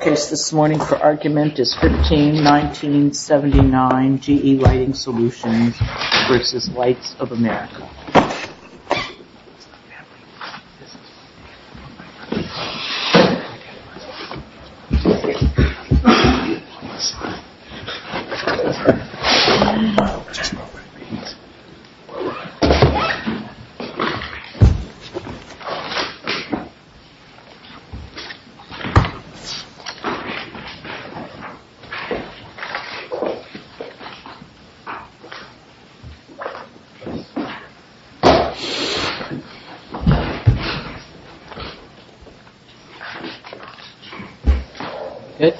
The case this morning for argument is 15-1979 GE Lighting Solutions v. Lights of America. Good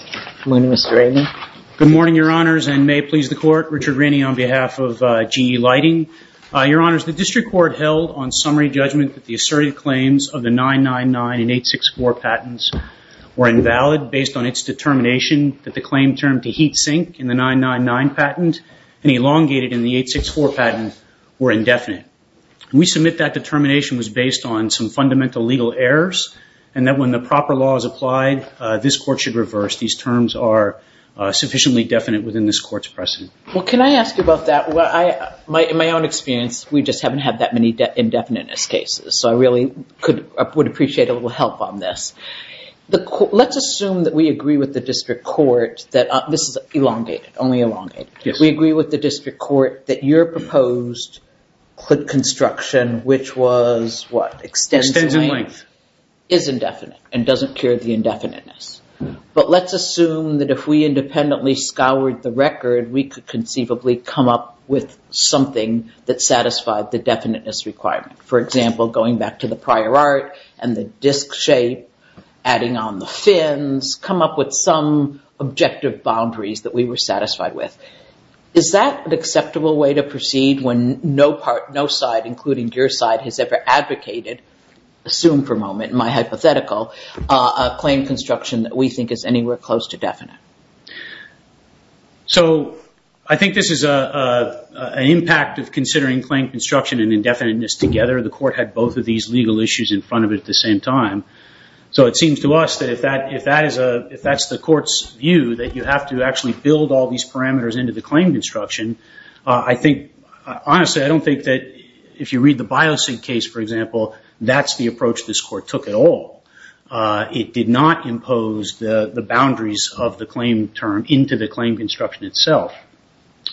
morning, Mr. Rainey. Good morning, Your Honors, and may it please the Court, Richard Rainey on behalf of GE Lighting. Your Honors, the District Court held on summary judgment that the asserted claims of the 999 and 864 patents were invalid based on its determination that the claim term to heat sink in the 999 patent and elongated in the 864 patent were indefinite. We submit that determination was based on some fundamental legal errors and that when the proper law is applied, this Court should reverse these terms are sufficiently definite within this Court's precedent. Well, can I ask about that? In my own experience, we just haven't had that many indefiniteness cases. So I really would appreciate a little help on this. Let's assume that we agree with the District Court that this is elongated, only elongated. We agree with the District Court that your proposed click construction, which was what? Extensive length, is indefinite and doesn't cure the indefiniteness. But let's assume that if we independently scoured the record, we could conceivably come up with something that satisfied the definiteness requirement. For example, going back to the prior art and the disc shape, adding on the fins, come up with some objective boundaries that we were satisfied with. Is that an acceptable way to proceed when no part, no side, including your side, has ever advocated, assume for a moment, my hypothetical, a claim construction that we think is anywhere close to definite? So I think this is an impact of considering claim construction and indefiniteness together. The Court had both of these legal issues in front of it at the same time. So it seems to us that if that's the Court's view, that you have to actually build all these parameters into the claim construction. I think, honestly, I don't think that if you read the Biosig case, for example, that's the approach this Court took at all. It did not impose the boundaries of the claim term into the claim construction itself.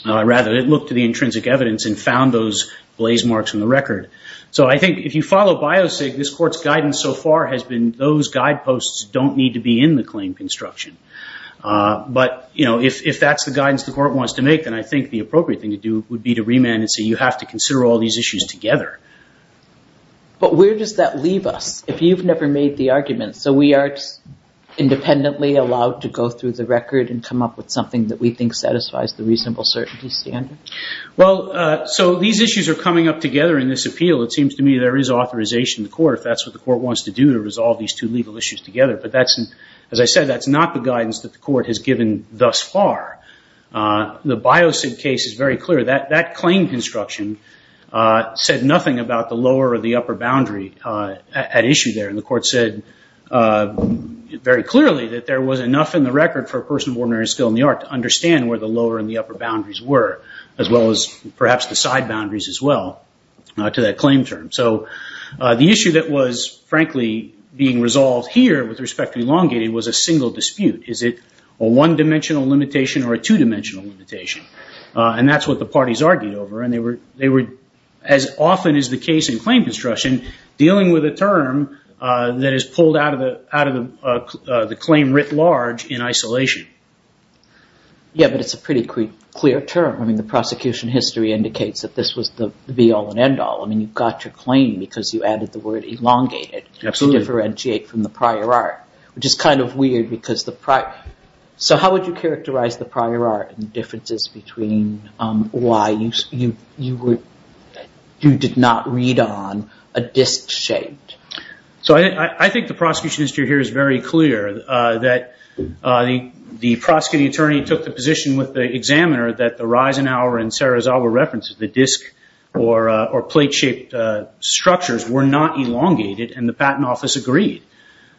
Rather, it looked at the intrinsic evidence and found those blaze marks in the record. So I think if you follow Biosig, this Court's guidance so far has been those guideposts don't need to be in the claim construction. But if that's the guidance the Court wants to make, then I think the appropriate thing to do would be to remand and say you have to consider all these issues together. But where does that leave us? If you've never made the argument, so we aren't independently allowed to go through the record and come up with something that we think satisfies the reasonable certainty standard? Well, so these issues are coming up together in this appeal. It seems to me there is authorization in the Court if that's what the Court wants to do to resolve these two legal issues together. But that's, as I said, that's not the guidance that the Court has given thus far. The Biosig case is very clear. That claim construction said nothing about the lower or the upper boundaries. There wasn't enough in the record for a person of ordinary skill in the art to understand where the lower and the upper boundaries were, as well as perhaps the side boundaries as well to that claim term. So the issue that was, frankly, being resolved here with respect to elongated was a single dispute. Is it a one-dimensional limitation or a two-dimensional limitation? And that's what the parties argued over. And they were, as often is the case in claim construction, dealing with a term that is pulled out of the claim writ large in isolation. Yeah, but it's a pretty clear term. I mean, the prosecution history indicates that this was the be-all and end-all. I mean, you got your claim because you added the word elongated to differentiate from the prior art, which is kind of weird because the prior... So how would you characterize the prior art and the differences between why you did not read on a disc-shaped? So I think the prosecution history here is very clear that the prosecuting attorney took the position with the examiner that the Reisenhower and Sarazawa references, the disc or plate-shaped structures were not elongated, and the Patent Office agreed.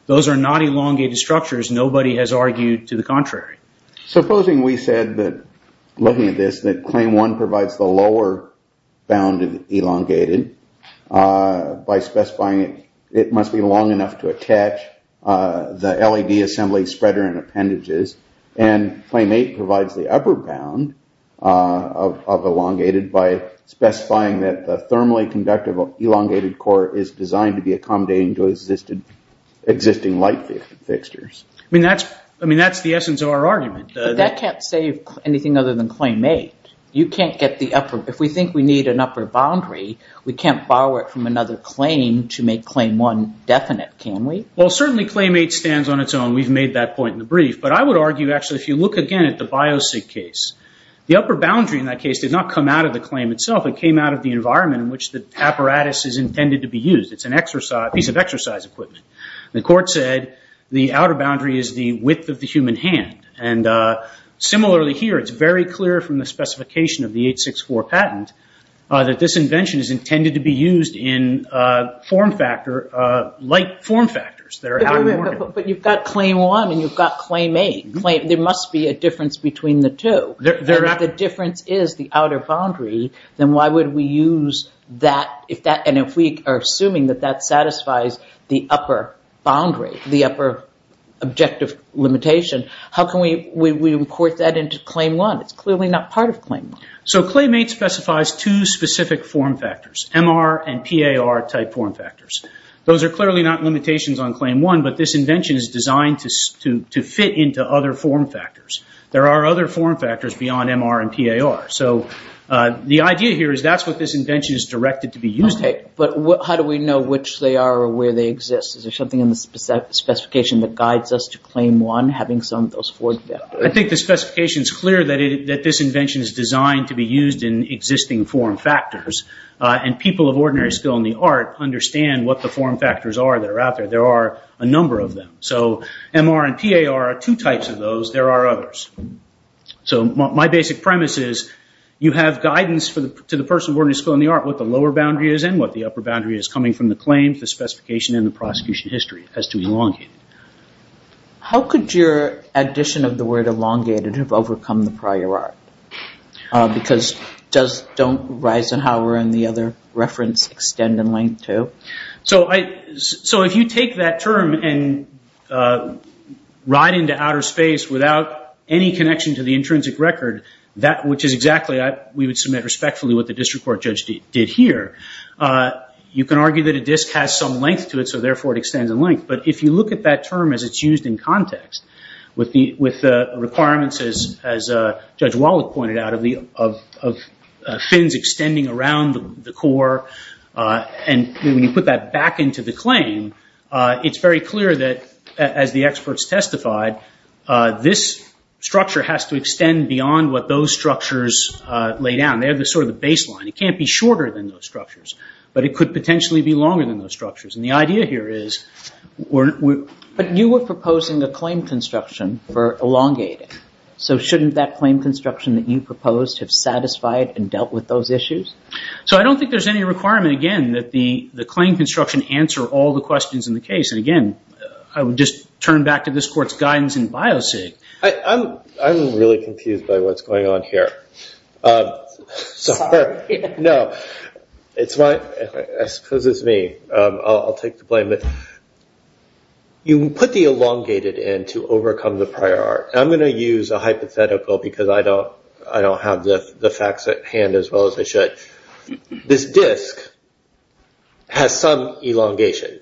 Those are not elongated structures. Nobody has argued to the contrary. Supposing we said that, looking at this, that claim one provides the lower bounded elongated, by specifying it must be long enough to attach the LED assembly spreader and appendages, and claim eight provides the upper bound of elongated by specifying that the thermally conductive elongated core is designed to be accommodating to existing light fixtures. I mean, that's the essence of our argument. That can't save anything other than claim eight. You can't get the upper... If we think we need an upper boundary, we can't borrow it from another claim to make claim one definite, can we? Well, certainly claim eight stands on its own. We've made that point in the brief. But I would argue, actually, if you look again at the Biosig case, the upper boundary in that case did not come out of the claim itself. It came out of the environment in which the apparatus is intended to be used. It's a piece of exercise equipment. The court said the outer boundary is the width of the human hand. And similarly here, it's very clear from the specification of the 864 patent that this invention is intended to be used in light form factors that are out of the organ. But you've got claim one and you've got claim eight. There must be a difference between the two. If the difference is the outer boundary, then why would we use that? And if we are assuming that that satisfies the upper boundary, the upper objective limitation, how can we import that into claim one? It's clearly not part of claim one. So claim eight specifies two specific form factors, MR and PAR type form factors. Those are clearly not limitations on claim one, but this invention is designed to fit into other form factors. There are other form factors beyond MR and PAR. So the idea here is that's what this invention is directed to be used for. But how do we know which they are or where they exist? Is there something in the specification that guides us to claim one, having some of those form factors? I think the specification is clear that this invention is designed to be used in existing form factors. And people of ordinary skill in the art understand what the form factors are that are out there. There are a number of them. So MR and PAR are two types of those. There are others. So my basic premise is you have guidance to the person of ordinary skill in the art what the lower boundary is and what the upper boundary is coming from the claims, the specification, and the prosecution history. It has to be elongated. How could your addition of the word elongated have overcome the prior art? Because don't Reisenhower and the other reference extend in length, too? So if you take that term and ride into outer space without any connection to the intrinsic record, which is exactly, we would submit respectfully what the district court judge did here, you can argue that a disk has some length to it, so therefore it extends in length. But if you look at that term as it's used in context with the requirements, as Judge Wallach pointed out, of fins extending around the core, and when you put that back into the claim, it's very clear that, as the experts testified, this structure has to extend beyond what those structures lay down. They have sort of the baseline. It can't be shorter than those structures, but it could potentially be longer than those structures. And the idea here is, but you were proposing a claim construction for elongating. So shouldn't that claim construction that you proposed have satisfied and dealt with those issues? So I don't think there's any requirement, again, that the claim construction answer all the questions in the case. And again, I would just turn back to this Court's guidance in BIOCIG. I'm really confused by what's going on here. Sorry. No. It's fine. I suppose it's me. I'll take the blame. You put the elongated in to overcome the prior art. I'm going to use a hypothetical because I don't have the facts at hand as well as I should. This disk has some elongation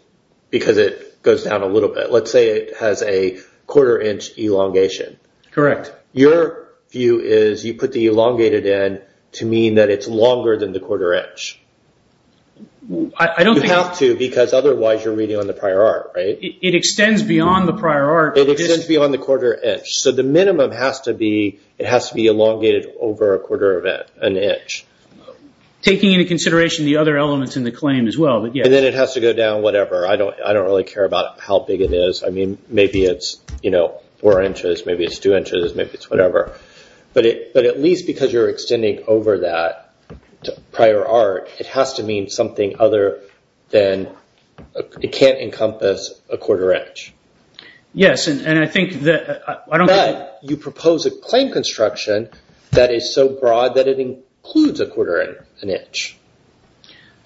because it goes down a little bit. Let's say it has a quarter inch elongation. Correct. Your view is you put the elongated in to mean that it's longer than the quarter inch. You have to because otherwise you're reading on the prior art, right? It extends beyond the prior art. It extends beyond the quarter inch. So the minimum has to be, it has to be elongated over a quarter of an inch. Taking into consideration the other elements in the claim as well. And then it has to go down whatever. I don't really care about how big it is. Maybe it's four inches. Maybe it's two inches. Maybe it's whatever. But at least because you're extending over that prior art, it has to mean something other than, it can't encompass a quarter inch. Yes. And I think that I don't... You propose a claim construction that is so broad that it includes a quarter of an inch.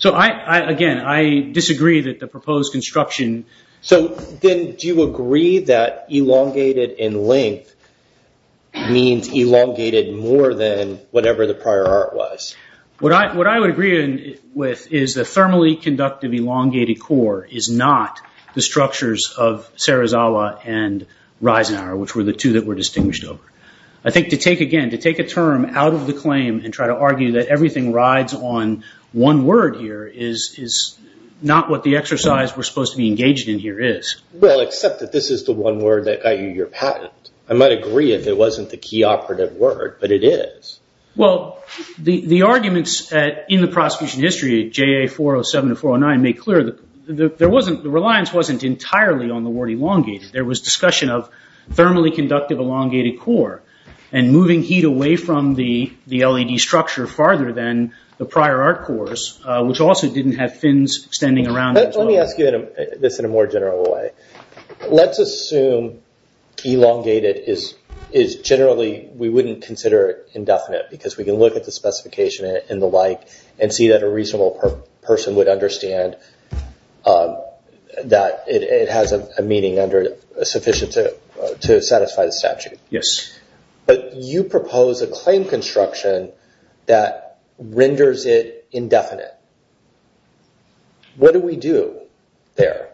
Again, I disagree that the proposed construction... So then do you agree that elongated in length means elongated more than whatever the prior art was? What I would agree with is the thermally conductive elongated core is not the structures of Serra Zala and Reisenauer, which were the two that were distinguished over. I think to take again, to take a term out of the claim and try to argue that everything rides on one word here is not what the exercise we're supposed to be engaged in here is. Well, except that this is the one word that got you your patent. I might agree if it wasn't the key operative word, but it is. The arguments in the prosecution history, JA 407 and 409, make clear that the reliance wasn't entirely on the word elongated. There was discussion of thermally conductive elongated core and moving heat away from the LED structure farther than the prior art cores, which also didn't have fins extending around as well. Let me ask you this in a more general way. Let's assume elongated is generally... We wouldn't consider it indefinite because we can look at the specification and the like and see that a reasonable person would understand that it has a meaning under sufficient to use. You propose a claim construction that renders it indefinite. What do we do there?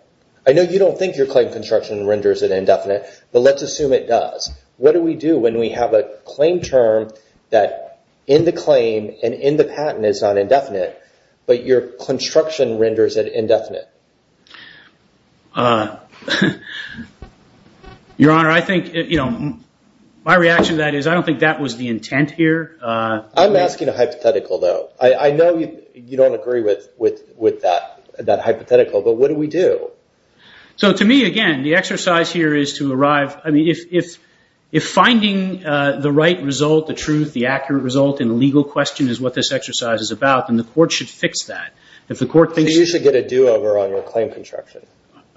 I know you don't think your claim construction renders it indefinite, but let's assume it does. What do we do when we have a claim term that in the claim and in the patent is not indefinite, but your construction renders it indefinite? Your Honor, I think... My reaction to that is I don't think that was the intent here. I'm asking a hypothetical though. I know you don't agree with that hypothetical, but what do we do? To me, again, the exercise here is to arrive... If finding the right result, the truth, the accurate result, and the legal question is what this exercise is about, then the court should fix that. If the court thinks... Then you should get a do-over on your claim construction.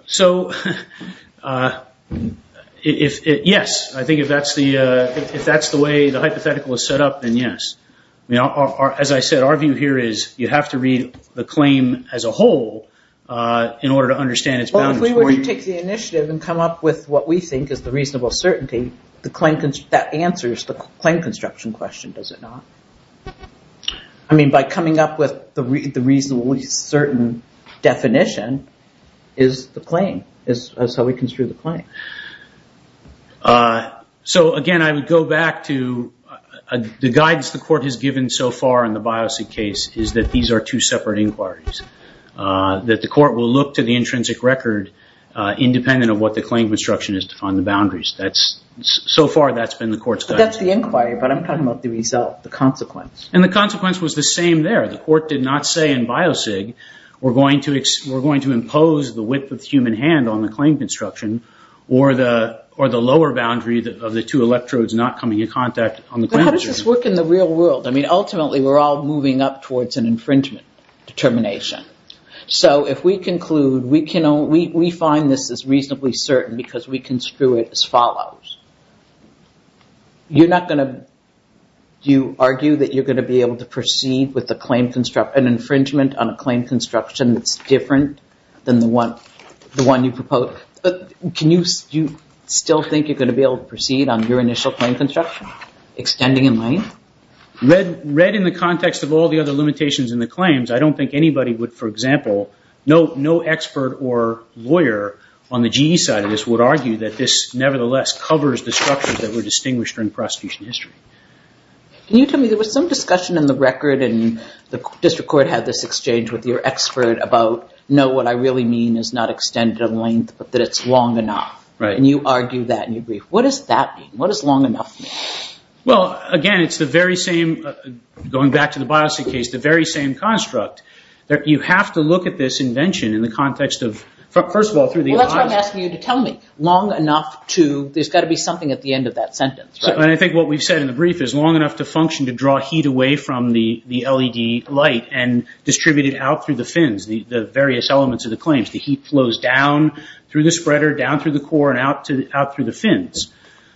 Yes. I think if that's the way the hypothetical is set up, then yes. As I said, our view here is you have to read the claim as a whole in order to understand its boundaries. If we were to take the initiative and come up with what we think is the reasonable certainty, that answers the claim construction question, does it not? By coming up with the reasonably certain definition is the claim. That's how we construe the claim. Again, I would go back to the guidance the court has given so far in the Biocid case is that these are two separate inquiries, that the court will look to the intrinsic record independent of what the claim construction is to find the boundaries. So far, that's been the court's guidance. That's the inquiry, but I'm talking about the result, the consequence. The consequence was the same there. The court did not say in Biocid, we're going to impose the width of the human hand on the claim construction or the lower boundary of the two electrodes not coming in contact on the claim construction. How does this work in the real world? Ultimately, we're all moving up towards an infringement determination. If we conclude we find this is reasonably certain because we construe it as follows, do you argue that you're going to be able to proceed with an infringement on a claim construction that's different than the one you propose? Do you still think you're going to be able to proceed on your initial claim construction, extending in length? Read in the context of all the other limitations in the claims, I don't think anybody would, for example, no expert or lawyer on the GE side of this would argue that this nevertheless covers the structures that were distinguished during prosecution history. Can you tell me, there was some discussion in the record and the district court had this exchange with your expert about, no, what I really mean is not extended in length, but that it's long enough. You argue that in your brief. What does that mean? What does long enough mean? Well, again, it's the very same, going back to the Biocid case, the very same construct. You have to look at this invention in the context of, first of all, through the... Well, that's what I'm asking you to tell me, long enough to, there's got to be something at the end of that sentence, right? And I think what we've said in the brief is long enough to function to draw heat away from the LED light and distribute it out through the fins, the various elements of the claims. The heat flows down through the spreader, down through the core and out through the fins.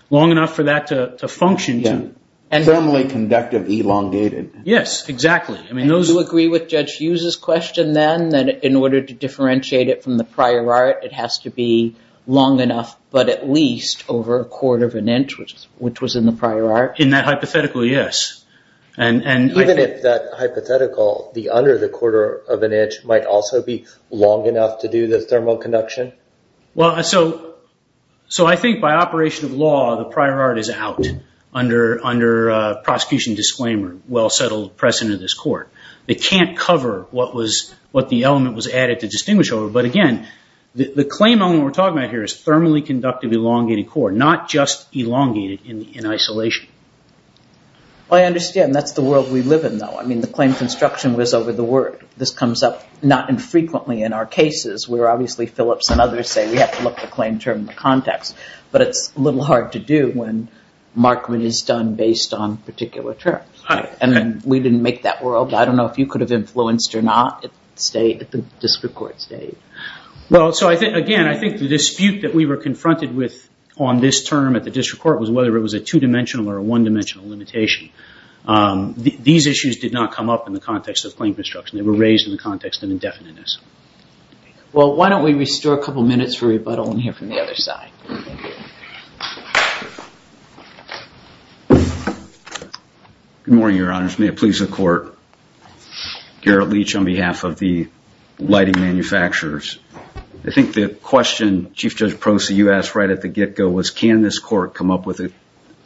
Long enough for that to function to... Thermally conductive elongated. Yes, exactly. I mean those... I guess you use this question then that in order to differentiate it from the prior art, it has to be long enough, but at least over a quarter of an inch, which was in the prior art. In that hypothetical, yes. Even if that hypothetical, the under the quarter of an inch might also be long enough to do the thermal conduction? So I think by operation of law, the prior art is out under prosecution disclaimer, well we can't cover what the element was added to distinguish over, but again, the claim element we're talking about here is thermally conductive elongated core, not just elongated in isolation. Well I understand, that's the world we live in though. I mean the claim construction was over the word. This comes up not infrequently in our cases, where obviously Phillips and others say we have to look at the claim term in the context, but it's a little hard to do when markment is done based on particular terms, and we didn't make that world. I don't know if you could have influenced or not at the district court stage. Well so again, I think the dispute that we were confronted with on this term at the district court was whether it was a two-dimensional or a one-dimensional limitation. These issues did not come up in the context of claim construction. They were raised in the context of indefiniteness. Well why don't we restore a couple of minutes for rebuttal and hear from the other side. Good morning, your honors. May it please the court. Garrett Leach on behalf of the lighting manufacturers. I think the question, Chief Judge Proce, you asked right at the get-go was can this court come up with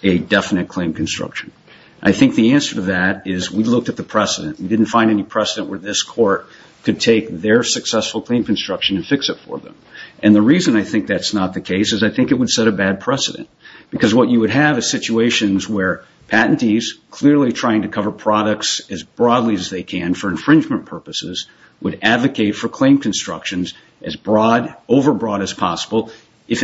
a definite claim construction. I think the answer to that is we looked at the precedent. We didn't find any precedent where this court could take their successful claim construction and fix it for them. And the reason I think that's not the case is I think it would set a bad precedent. Because what you would have is situations where patentees clearly trying to cover products as broadly as they can for infringement purposes would advocate for claim constructions as broad, over broad as possible. If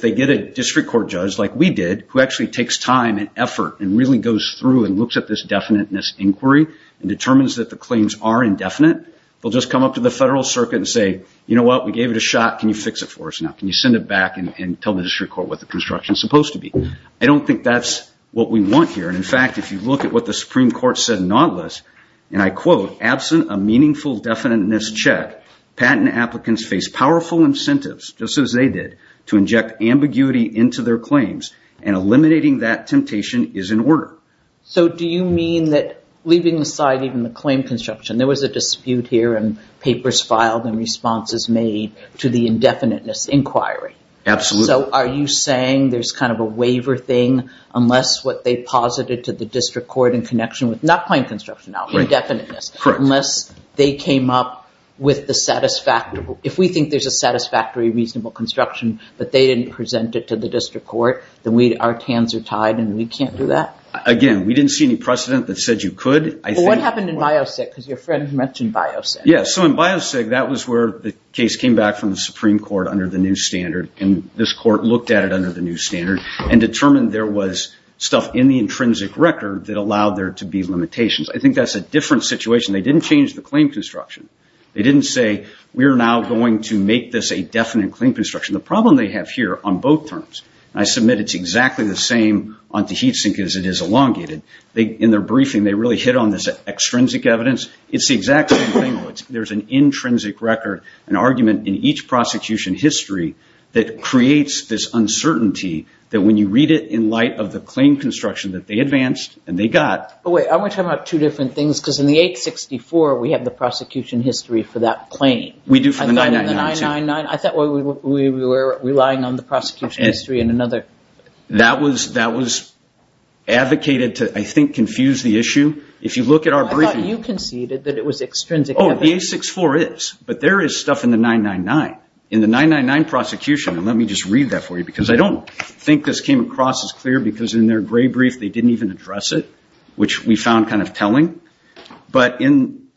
they get a district court judge like we did, who actually takes time and effort and really goes through and looks at this definiteness inquiry and determines that the claims are indefinite, they'll just come up to the federal circuit and say, you know what, we gave it a shot. Can you fix it for us now? Can you send it back and tell the district court what the construction is supposed to be? I don't think that's what we want here. In fact, if you look at what the Supreme Court said in Nautilus, and I quote, absent a meaningful definiteness check, patent applicants face powerful incentives just as they did to inject ambiguity into their claims and eliminating that temptation is in order. So do you mean that leaving aside even the claim construction, there was a dispute here and papers filed and responses made to the indefiniteness inquiry? Absolutely. So are you saying there's kind of a waiver thing unless what they posited to the district court in connection with not claim construction now, indefiniteness, unless they came up with the satisfactory, if we think there's a satisfactory reasonable construction, but they didn't present it to the district court, then our hands are tied and we can't do that? Again, we didn't see any precedent that said you could. What happened in Biosig? Because your friend mentioned Biosig. Yeah, so in Biosig, that was where the case came back from the Supreme Court under the new standard. And this court looked at it under the new standard and determined there was stuff in the intrinsic record that allowed there to be limitations. I think that's a different situation. They didn't change the claim construction. They didn't say, we're now going to make this a definite claim construction. The problem they have here on both terms, and I submit it's exactly the same on Tahit Sink as it is elongated. In their briefing, they really hit on this extrinsic evidence. It's the exact same thing. There's an intrinsic record, an argument in each prosecution history that creates this uncertainty that when you read it in light of the claim construction that they advanced and they got- Wait, I want to talk about two different things because in the 864, we have the prosecution history for that claim. We do for the 999 too. And then in the 999, I thought we were relying on the prosecution history in another- That was advocated to, I think, confuse the issue. If you look at our briefing- I thought you conceded that it was extrinsic evidence. Oh, the 864 is, but there is stuff in the 999. In the 999 prosecution, and let me just read that for you because I don't think this came across as clear because in their gray brief they didn't even address it, which we found kind of telling. But in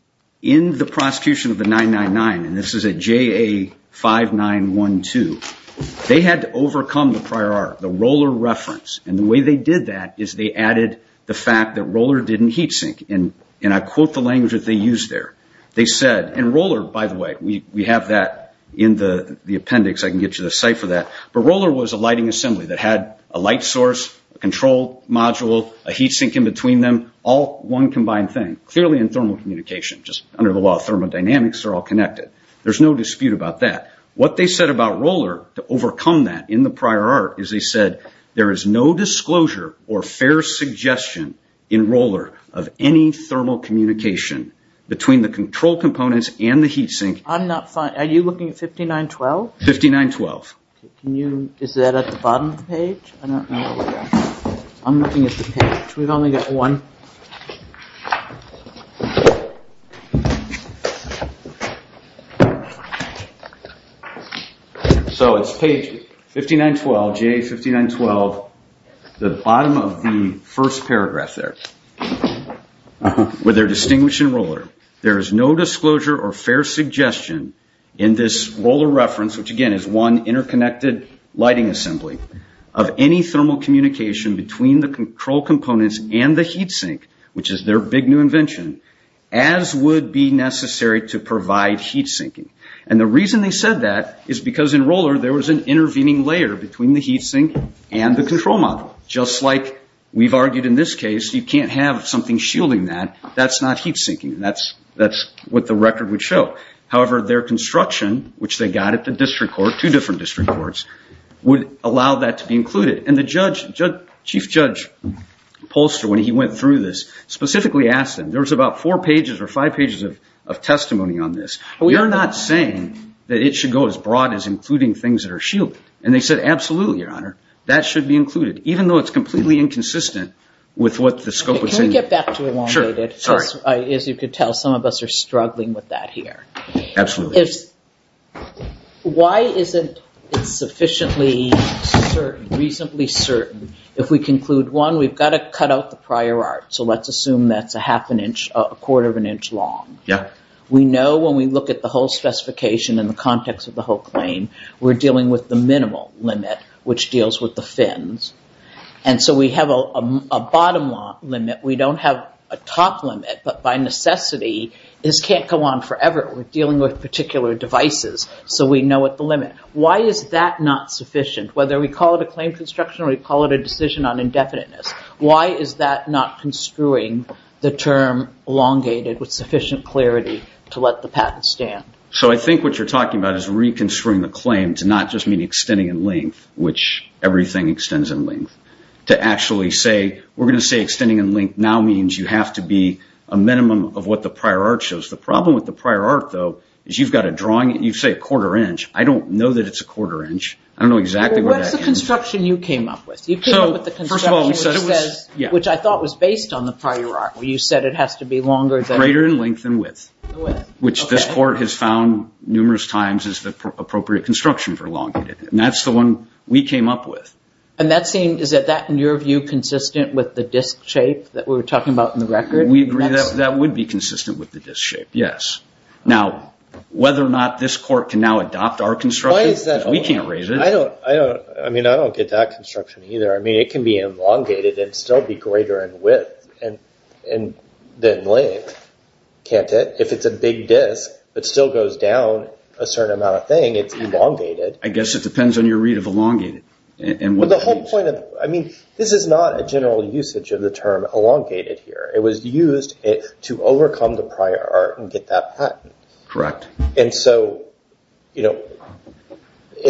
the prosecution of the 999, and this is at JA5912, they had to overcome the prior art, the Roller reference. And the way they did that is they added the fact that Roller didn't heat sink. And I quote the language that they used there. They said, and Roller, by the way, we have that in the appendix. I can get you the site for that. But Roller was a lighting assembly that had a light source, a control module, a heat sink in between them, all one combined thing, clearly in thermal communication. Just under the law of thermodynamics, they're all connected. There's no dispute about that. What they said about Roller to overcome that in the prior art is they said, there is no disclosure or fair suggestion in Roller of any thermal communication between the control components and the heat sink. I'm not fine. Are you looking at 5912? 5912. Is that at the bottom of the page? I'm looking at the page. We've only got one. So, it's page 5912, J5912, the bottom of the first paragraph there. With their distinguish in Roller, there's no disclosure or fair suggestion in this Roller reference, which again is one interconnected lighting assembly, of any thermal communication between the control components and the heat sink, which is their big new invention, as would be necessary to provide heat sinking. The reason they said that is because in Roller, there was an intervening layer between the heat sink and the control module. Just like we've argued in this case, you can't have something shielding that. That's not heat sinking. That's what the record would show. However, their construction, which they got at the district court, two different district courts, would allow that to be included. The chief judge, Polster, when he went through this, specifically asked them. There was about four pages or five pages of testimony on this. We are not saying that it should go as broad as including things that are shielding. They said, absolutely, your honor. That should be included, even though it's completely inconsistent with what the scope was saying. Can we get back to it while we're at it? Sure. Sorry. As you could tell, some of us are struggling with that here. Absolutely. Why isn't it sufficiently certain, reasonably certain, if we conclude, one, we've got to cut out the prior art. Let's assume that's a half an inch, a quarter of an inch long. We know when we look at the whole specification in the context of the whole claim, we're dealing with the minimal limit, which deals with the fins. We have a bottom limit. We don't have a top limit. By necessity, this can't go on forever. We're dealing with particular devices, so we know at the limit. Why is that not sufficient? Whether we call it a claim construction or we call it a decision on indefiniteness, why is that not construing the term elongated with sufficient clarity to let the patent stand? I think what you're talking about is reconstruing the claim to not just mean extending in length, which everything extends in length. To actually say, we're going to say extending in length now means you have to be a minimum of what the prior art shows. The problem with the prior art, though, is you've got a drawing. You say a quarter inch. I don't know that it's a quarter inch. I don't know exactly where that came from. What's the construction you came up with? You came up with the construction which says, which I thought was based on the prior art, where you said it has to be longer than- Greater in length than width, which this court has found numerous times is the appropriate construction for elongated. That's the one we came up with. Is that, in your view, consistent with the disc shape that we were talking about in the record? We agree that that would be consistent with the disc shape, yes. Now, whether or not this court can now adopt our construction, because we can't raise it- I don't get that construction either. It can be elongated and still be greater in width than length, can't it? If it's a big disc, it still goes down a certain amount of thing. It's elongated. I guess it depends on your read of elongated. The whole point of... This is not a general usage of the term elongated here. It was used to overcome the prior art and get that patent. Correct. It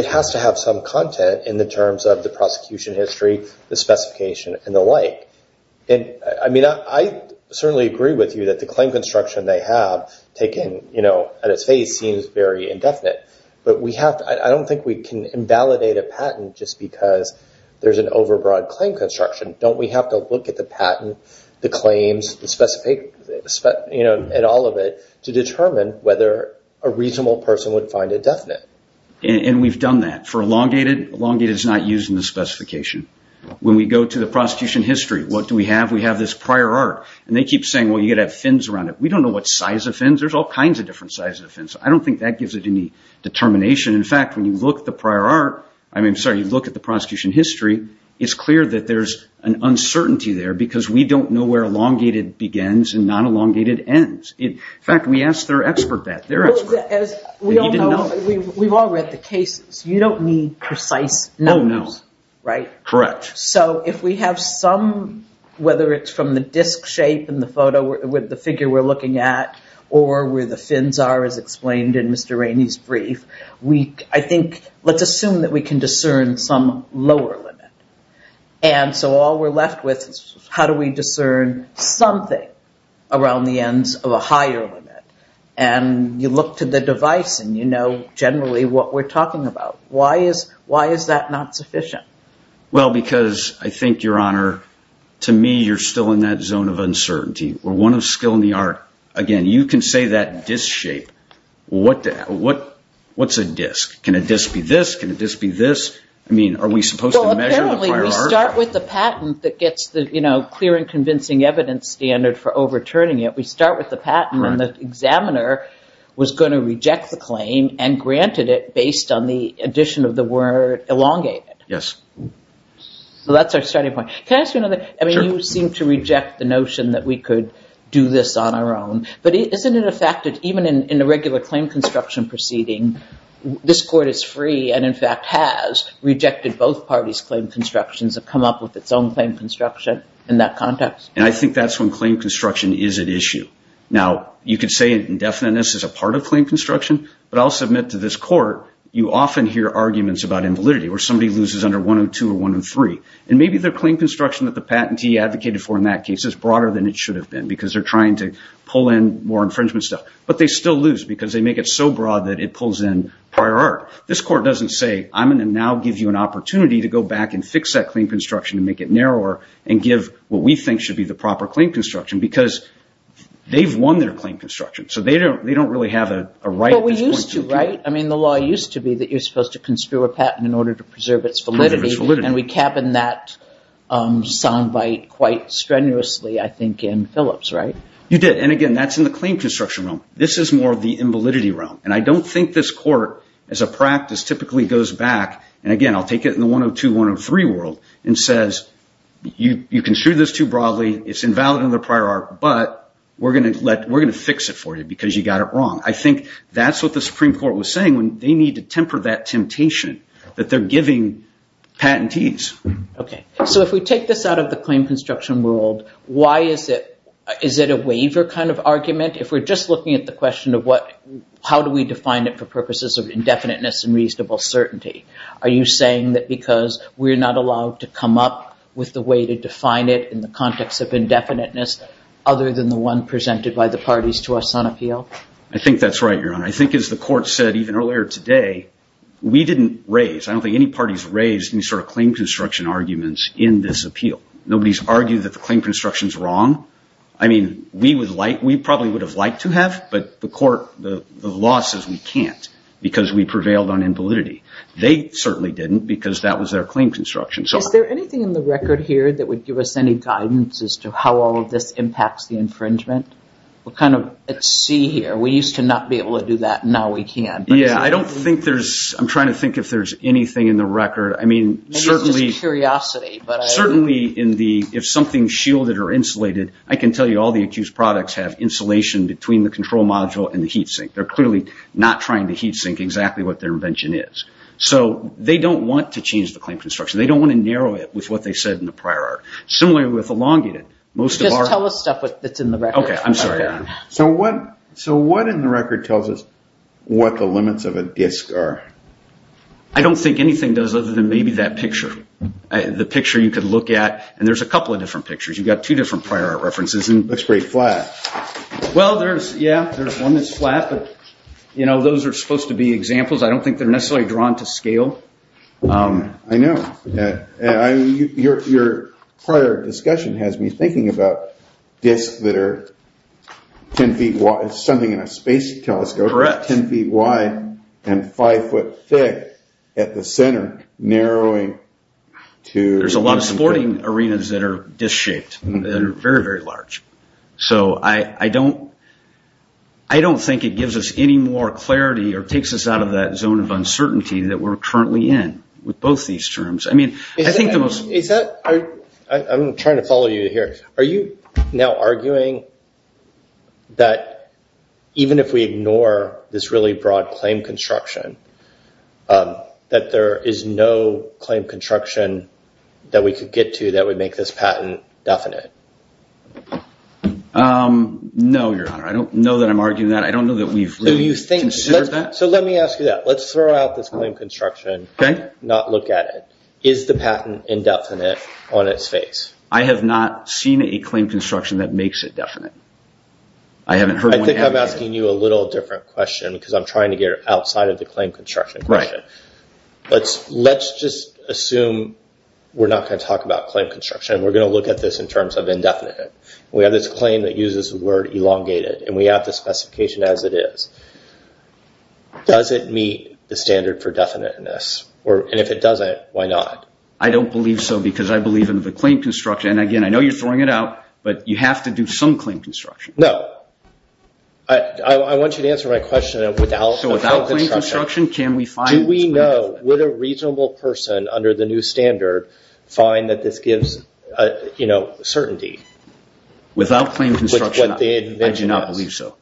has to have some content in the terms of the prosecution history, the specification and the like. I certainly agree with you that the claim construction they have taken at its face seems very indefinite. I don't think we can invalidate a patent just because there's an overbroad claim construction. Don't we have to look at the patent, the claims, and all of it to determine whether a reasonable person would find it definite? We've done that for elongated. Elongated is not used in the specification. When we go to the prosecution history, what do we have? We have this prior art. They keep saying, well, you got to have fins around it. We don't know what size of fins. There's all kinds of different sizes of fins. I don't think that gives it any determination. In fact, when you look at the prosecution history, it's clear that there's an uncertainty there because we don't know where elongated begins and non-elongated ends. In fact, we asked their expert that. We've all read the cases. You don't need precise numbers, right? Correct. If we have some, whether it's from the disc shape in the photo with the figure we're looking at or where the fins are as explained in Mr. Rainey's brief, let's assume that we can discern some lower limit. All we're left with is how do we discern something around the ends of a higher limit? You look to the device and you know generally what we're talking about. Why is that not sufficient? Well, because I think, Your Honor, to me you're still in that zone of uncertainty. We're one skill in the art. Again, you can say that disc shape. What's a disc? Can a disc be this? Can a disc be this? I mean, are we supposed to measure the prior arc? Well, apparently we start with the patent that gets the clear and convincing evidence standard for overturning it. We start with the patent and the examiner was going to reject the claim and granted it based on the addition of the word elongated. Yes. So that's our starting point. Can I ask you another? Sure. I do seem to reject the notion that we could do this on our own, but isn't it a fact that even in a regular claim construction proceeding, this court is free and in fact has rejected both parties' claim constructions and come up with its own claim construction in that context? And I think that's when claim construction is at issue. Now, you could say indefiniteness is a part of claim construction, but I'll submit to this court, you often hear arguments about invalidity where somebody loses under 102 or 103. And maybe their claim construction that the patentee advocated for in that case is broader than it should have been because they're trying to pull in more infringement stuff. But they still lose because they make it so broad that it pulls in prior arc. This court doesn't say, I'm going to now give you an opportunity to go back and fix that claim construction and make it narrower and give what we think should be the proper claim construction because they've won their claim construction. So they don't really have a right at this point to appeal. But we used to, right? I mean, the law used to be that you're supposed to conspire a patent in order to preserve its validity. And we cabin that soundbite quite strenuously, I think, in Phillips, right? You did. And again, that's in the claim construction realm. This is more of the invalidity realm. And I don't think this court, as a practice, typically goes back. And again, I'll take it in the 102, 103 world and says, you construed this too broadly. It's invalid in the prior arc, but we're going to fix it for you because you got it wrong. I think that's what the they're giving patentees. OK. So if we take this out of the claim construction world, why is it a waiver kind of argument? If we're just looking at the question of how do we define it for purposes of indefiniteness and reasonable certainty? Are you saying that because we're not allowed to come up with the way to define it in the context of indefiniteness other than the one presented by the parties to us on appeal? I think that's right, Your Honor. I think, as the court said even earlier today, we didn't raise, I don't think any parties raised any sort of claim construction arguments in this appeal. Nobody's argued that the claim construction's wrong. I mean, we probably would have liked to have, but the court, the law says we can't because we prevailed on invalidity. They certainly didn't because that was their claim construction. Is there anything in the record here that would give us any guidance as to how all of this impacts the infringement? We're kind of at sea here. We used to not be able to do that. Now we can. Yeah, I don't think there's, I'm trying to think if there's anything in the record. I mean, certainly, if something's shielded or insulated, I can tell you all the accused products have insulation between the control module and the heat sink. They're clearly not trying to heat sink exactly what their invention is. So, they don't want to change the claim construction. They don't want to narrow it with what they said in the prior art. Similarly with elongated, most of our... Just tell us stuff that's in the record. Okay, I'm sorry. So, what in the record tells us what the limits of a disk are? I don't think anything does other than maybe that picture. The picture you could look at, and there's a couple of different pictures. You've got two different prior art references. Looks pretty flat. Well, there's, yeah, there's one that's flat, but those are supposed to be examples. I don't think they're necessarily drawn to scale. I know. Your prior discussion has me thinking about disks that are 10 feet wide, something in a space telescope. Correct. 10 feet wide and 5 foot thick at the center, narrowing to... There's a lot of sporting arenas that are disk shaped. They're very, very large. So, I don't think it gives us any more clarity or takes us out of that zone of uncertainty that we're currently in with both these terms. I mean, I think the most... I'm trying to follow you here. Are you now arguing that even if we ignore this really broad claim construction, that there is no claim construction that we could get to that would make this patent definite? No, Your Honor. I don't know that I'm arguing that. I don't know that we've really considered that. Okay. So, let me ask you that. Let's throw out this claim construction, not look at it. Is the patent indefinite on its face? I have not seen a claim construction that makes it definite. I haven't heard one advocate... I think I'm asking you a little different question because I'm trying to get outside of the claim construction question. Let's just assume we're not going to talk about claim construction. We're going to look at this in terms of indefinite. We have this specification as it is. Does it meet the standard for definiteness? And if it doesn't, why not? I don't believe so because I believe in the claim construction. And again, I know you're throwing it out, but you have to do some claim construction. No. I want you to answer my question without claim construction. So, without claim construction, can we find this claim construction? Do we know, would a reasonable person under the new standard find that this gives certainty? Without claim construction, I do not believe so.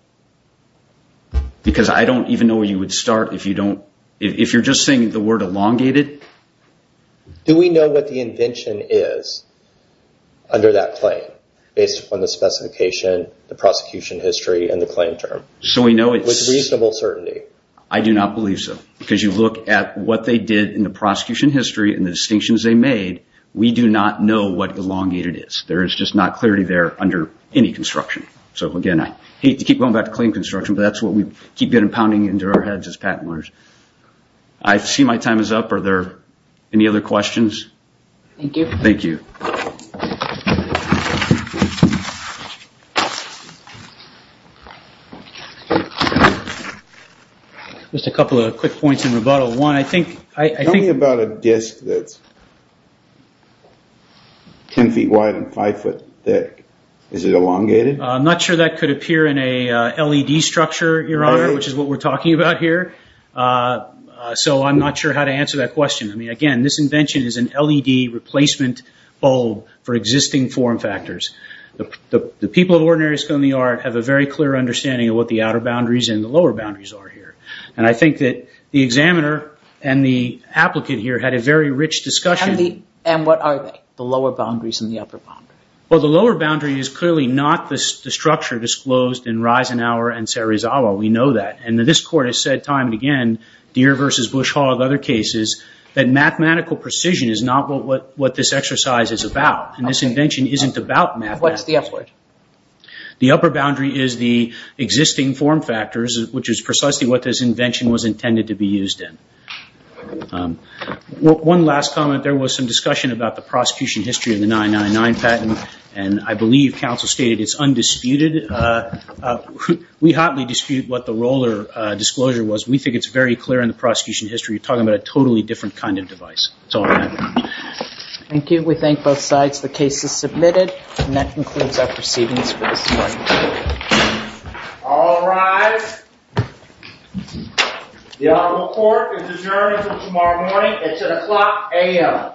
Because I don't even know where you would start if you don't... If you're just saying the word elongated... Do we know what the invention is under that claim based upon the specification, the prosecution history, and the claim term? So, we know it's... With reasonable certainty. I do not believe so because you look at what they did in the prosecution history and the distinctions they made, we do not know what elongated is. There is just not clarity there under any construction. So, again, I hate to keep going back to claim construction, but that's what we keep getting pounding into our heads as patent lawyers. I see my time is up. Are there any other questions? Thank you. Thank you. Just a couple of quick points in rebuttal. One, I think... I'm not sure that could appear in a LED structure, Your Honor, which is what we're talking about here. So, I'm not sure how to answer that question. I mean, again, this invention is an LED replacement bulb for existing form factors. The people at Ordinary School in the Art have a very clear understanding of what the outer boundaries and the lower boundaries are here. And I think that the examiner and the applicant here had a very rich discussion... And what are they? The lower boundaries and the upper boundary. Well, the lower boundary is clearly not the structure disclosed in Reisenhower and Serizawa. We know that. And this court has said time and again, Deere versus Bush Hall and other cases, that mathematical precision is not what this exercise is about. And this invention isn't about mathematics. What's the upper boundary? The upper boundary is the existing form factors, which is precisely what this invention was intended to be used in. One last comment. There was some discussion about the prosecution history of the 999 patent. And I believe counsel stated it's undisputed. We hotly dispute what the roller disclosure was. We think it's very clear in the prosecution history. We're talking about a totally different kind of device. That's all I have. Thank you. We thank both sides. The case is submitted. And that concludes our proceedings for this morning. All rise. The Honorable Court is adjourned until tomorrow morning. It's at o'clock a.m.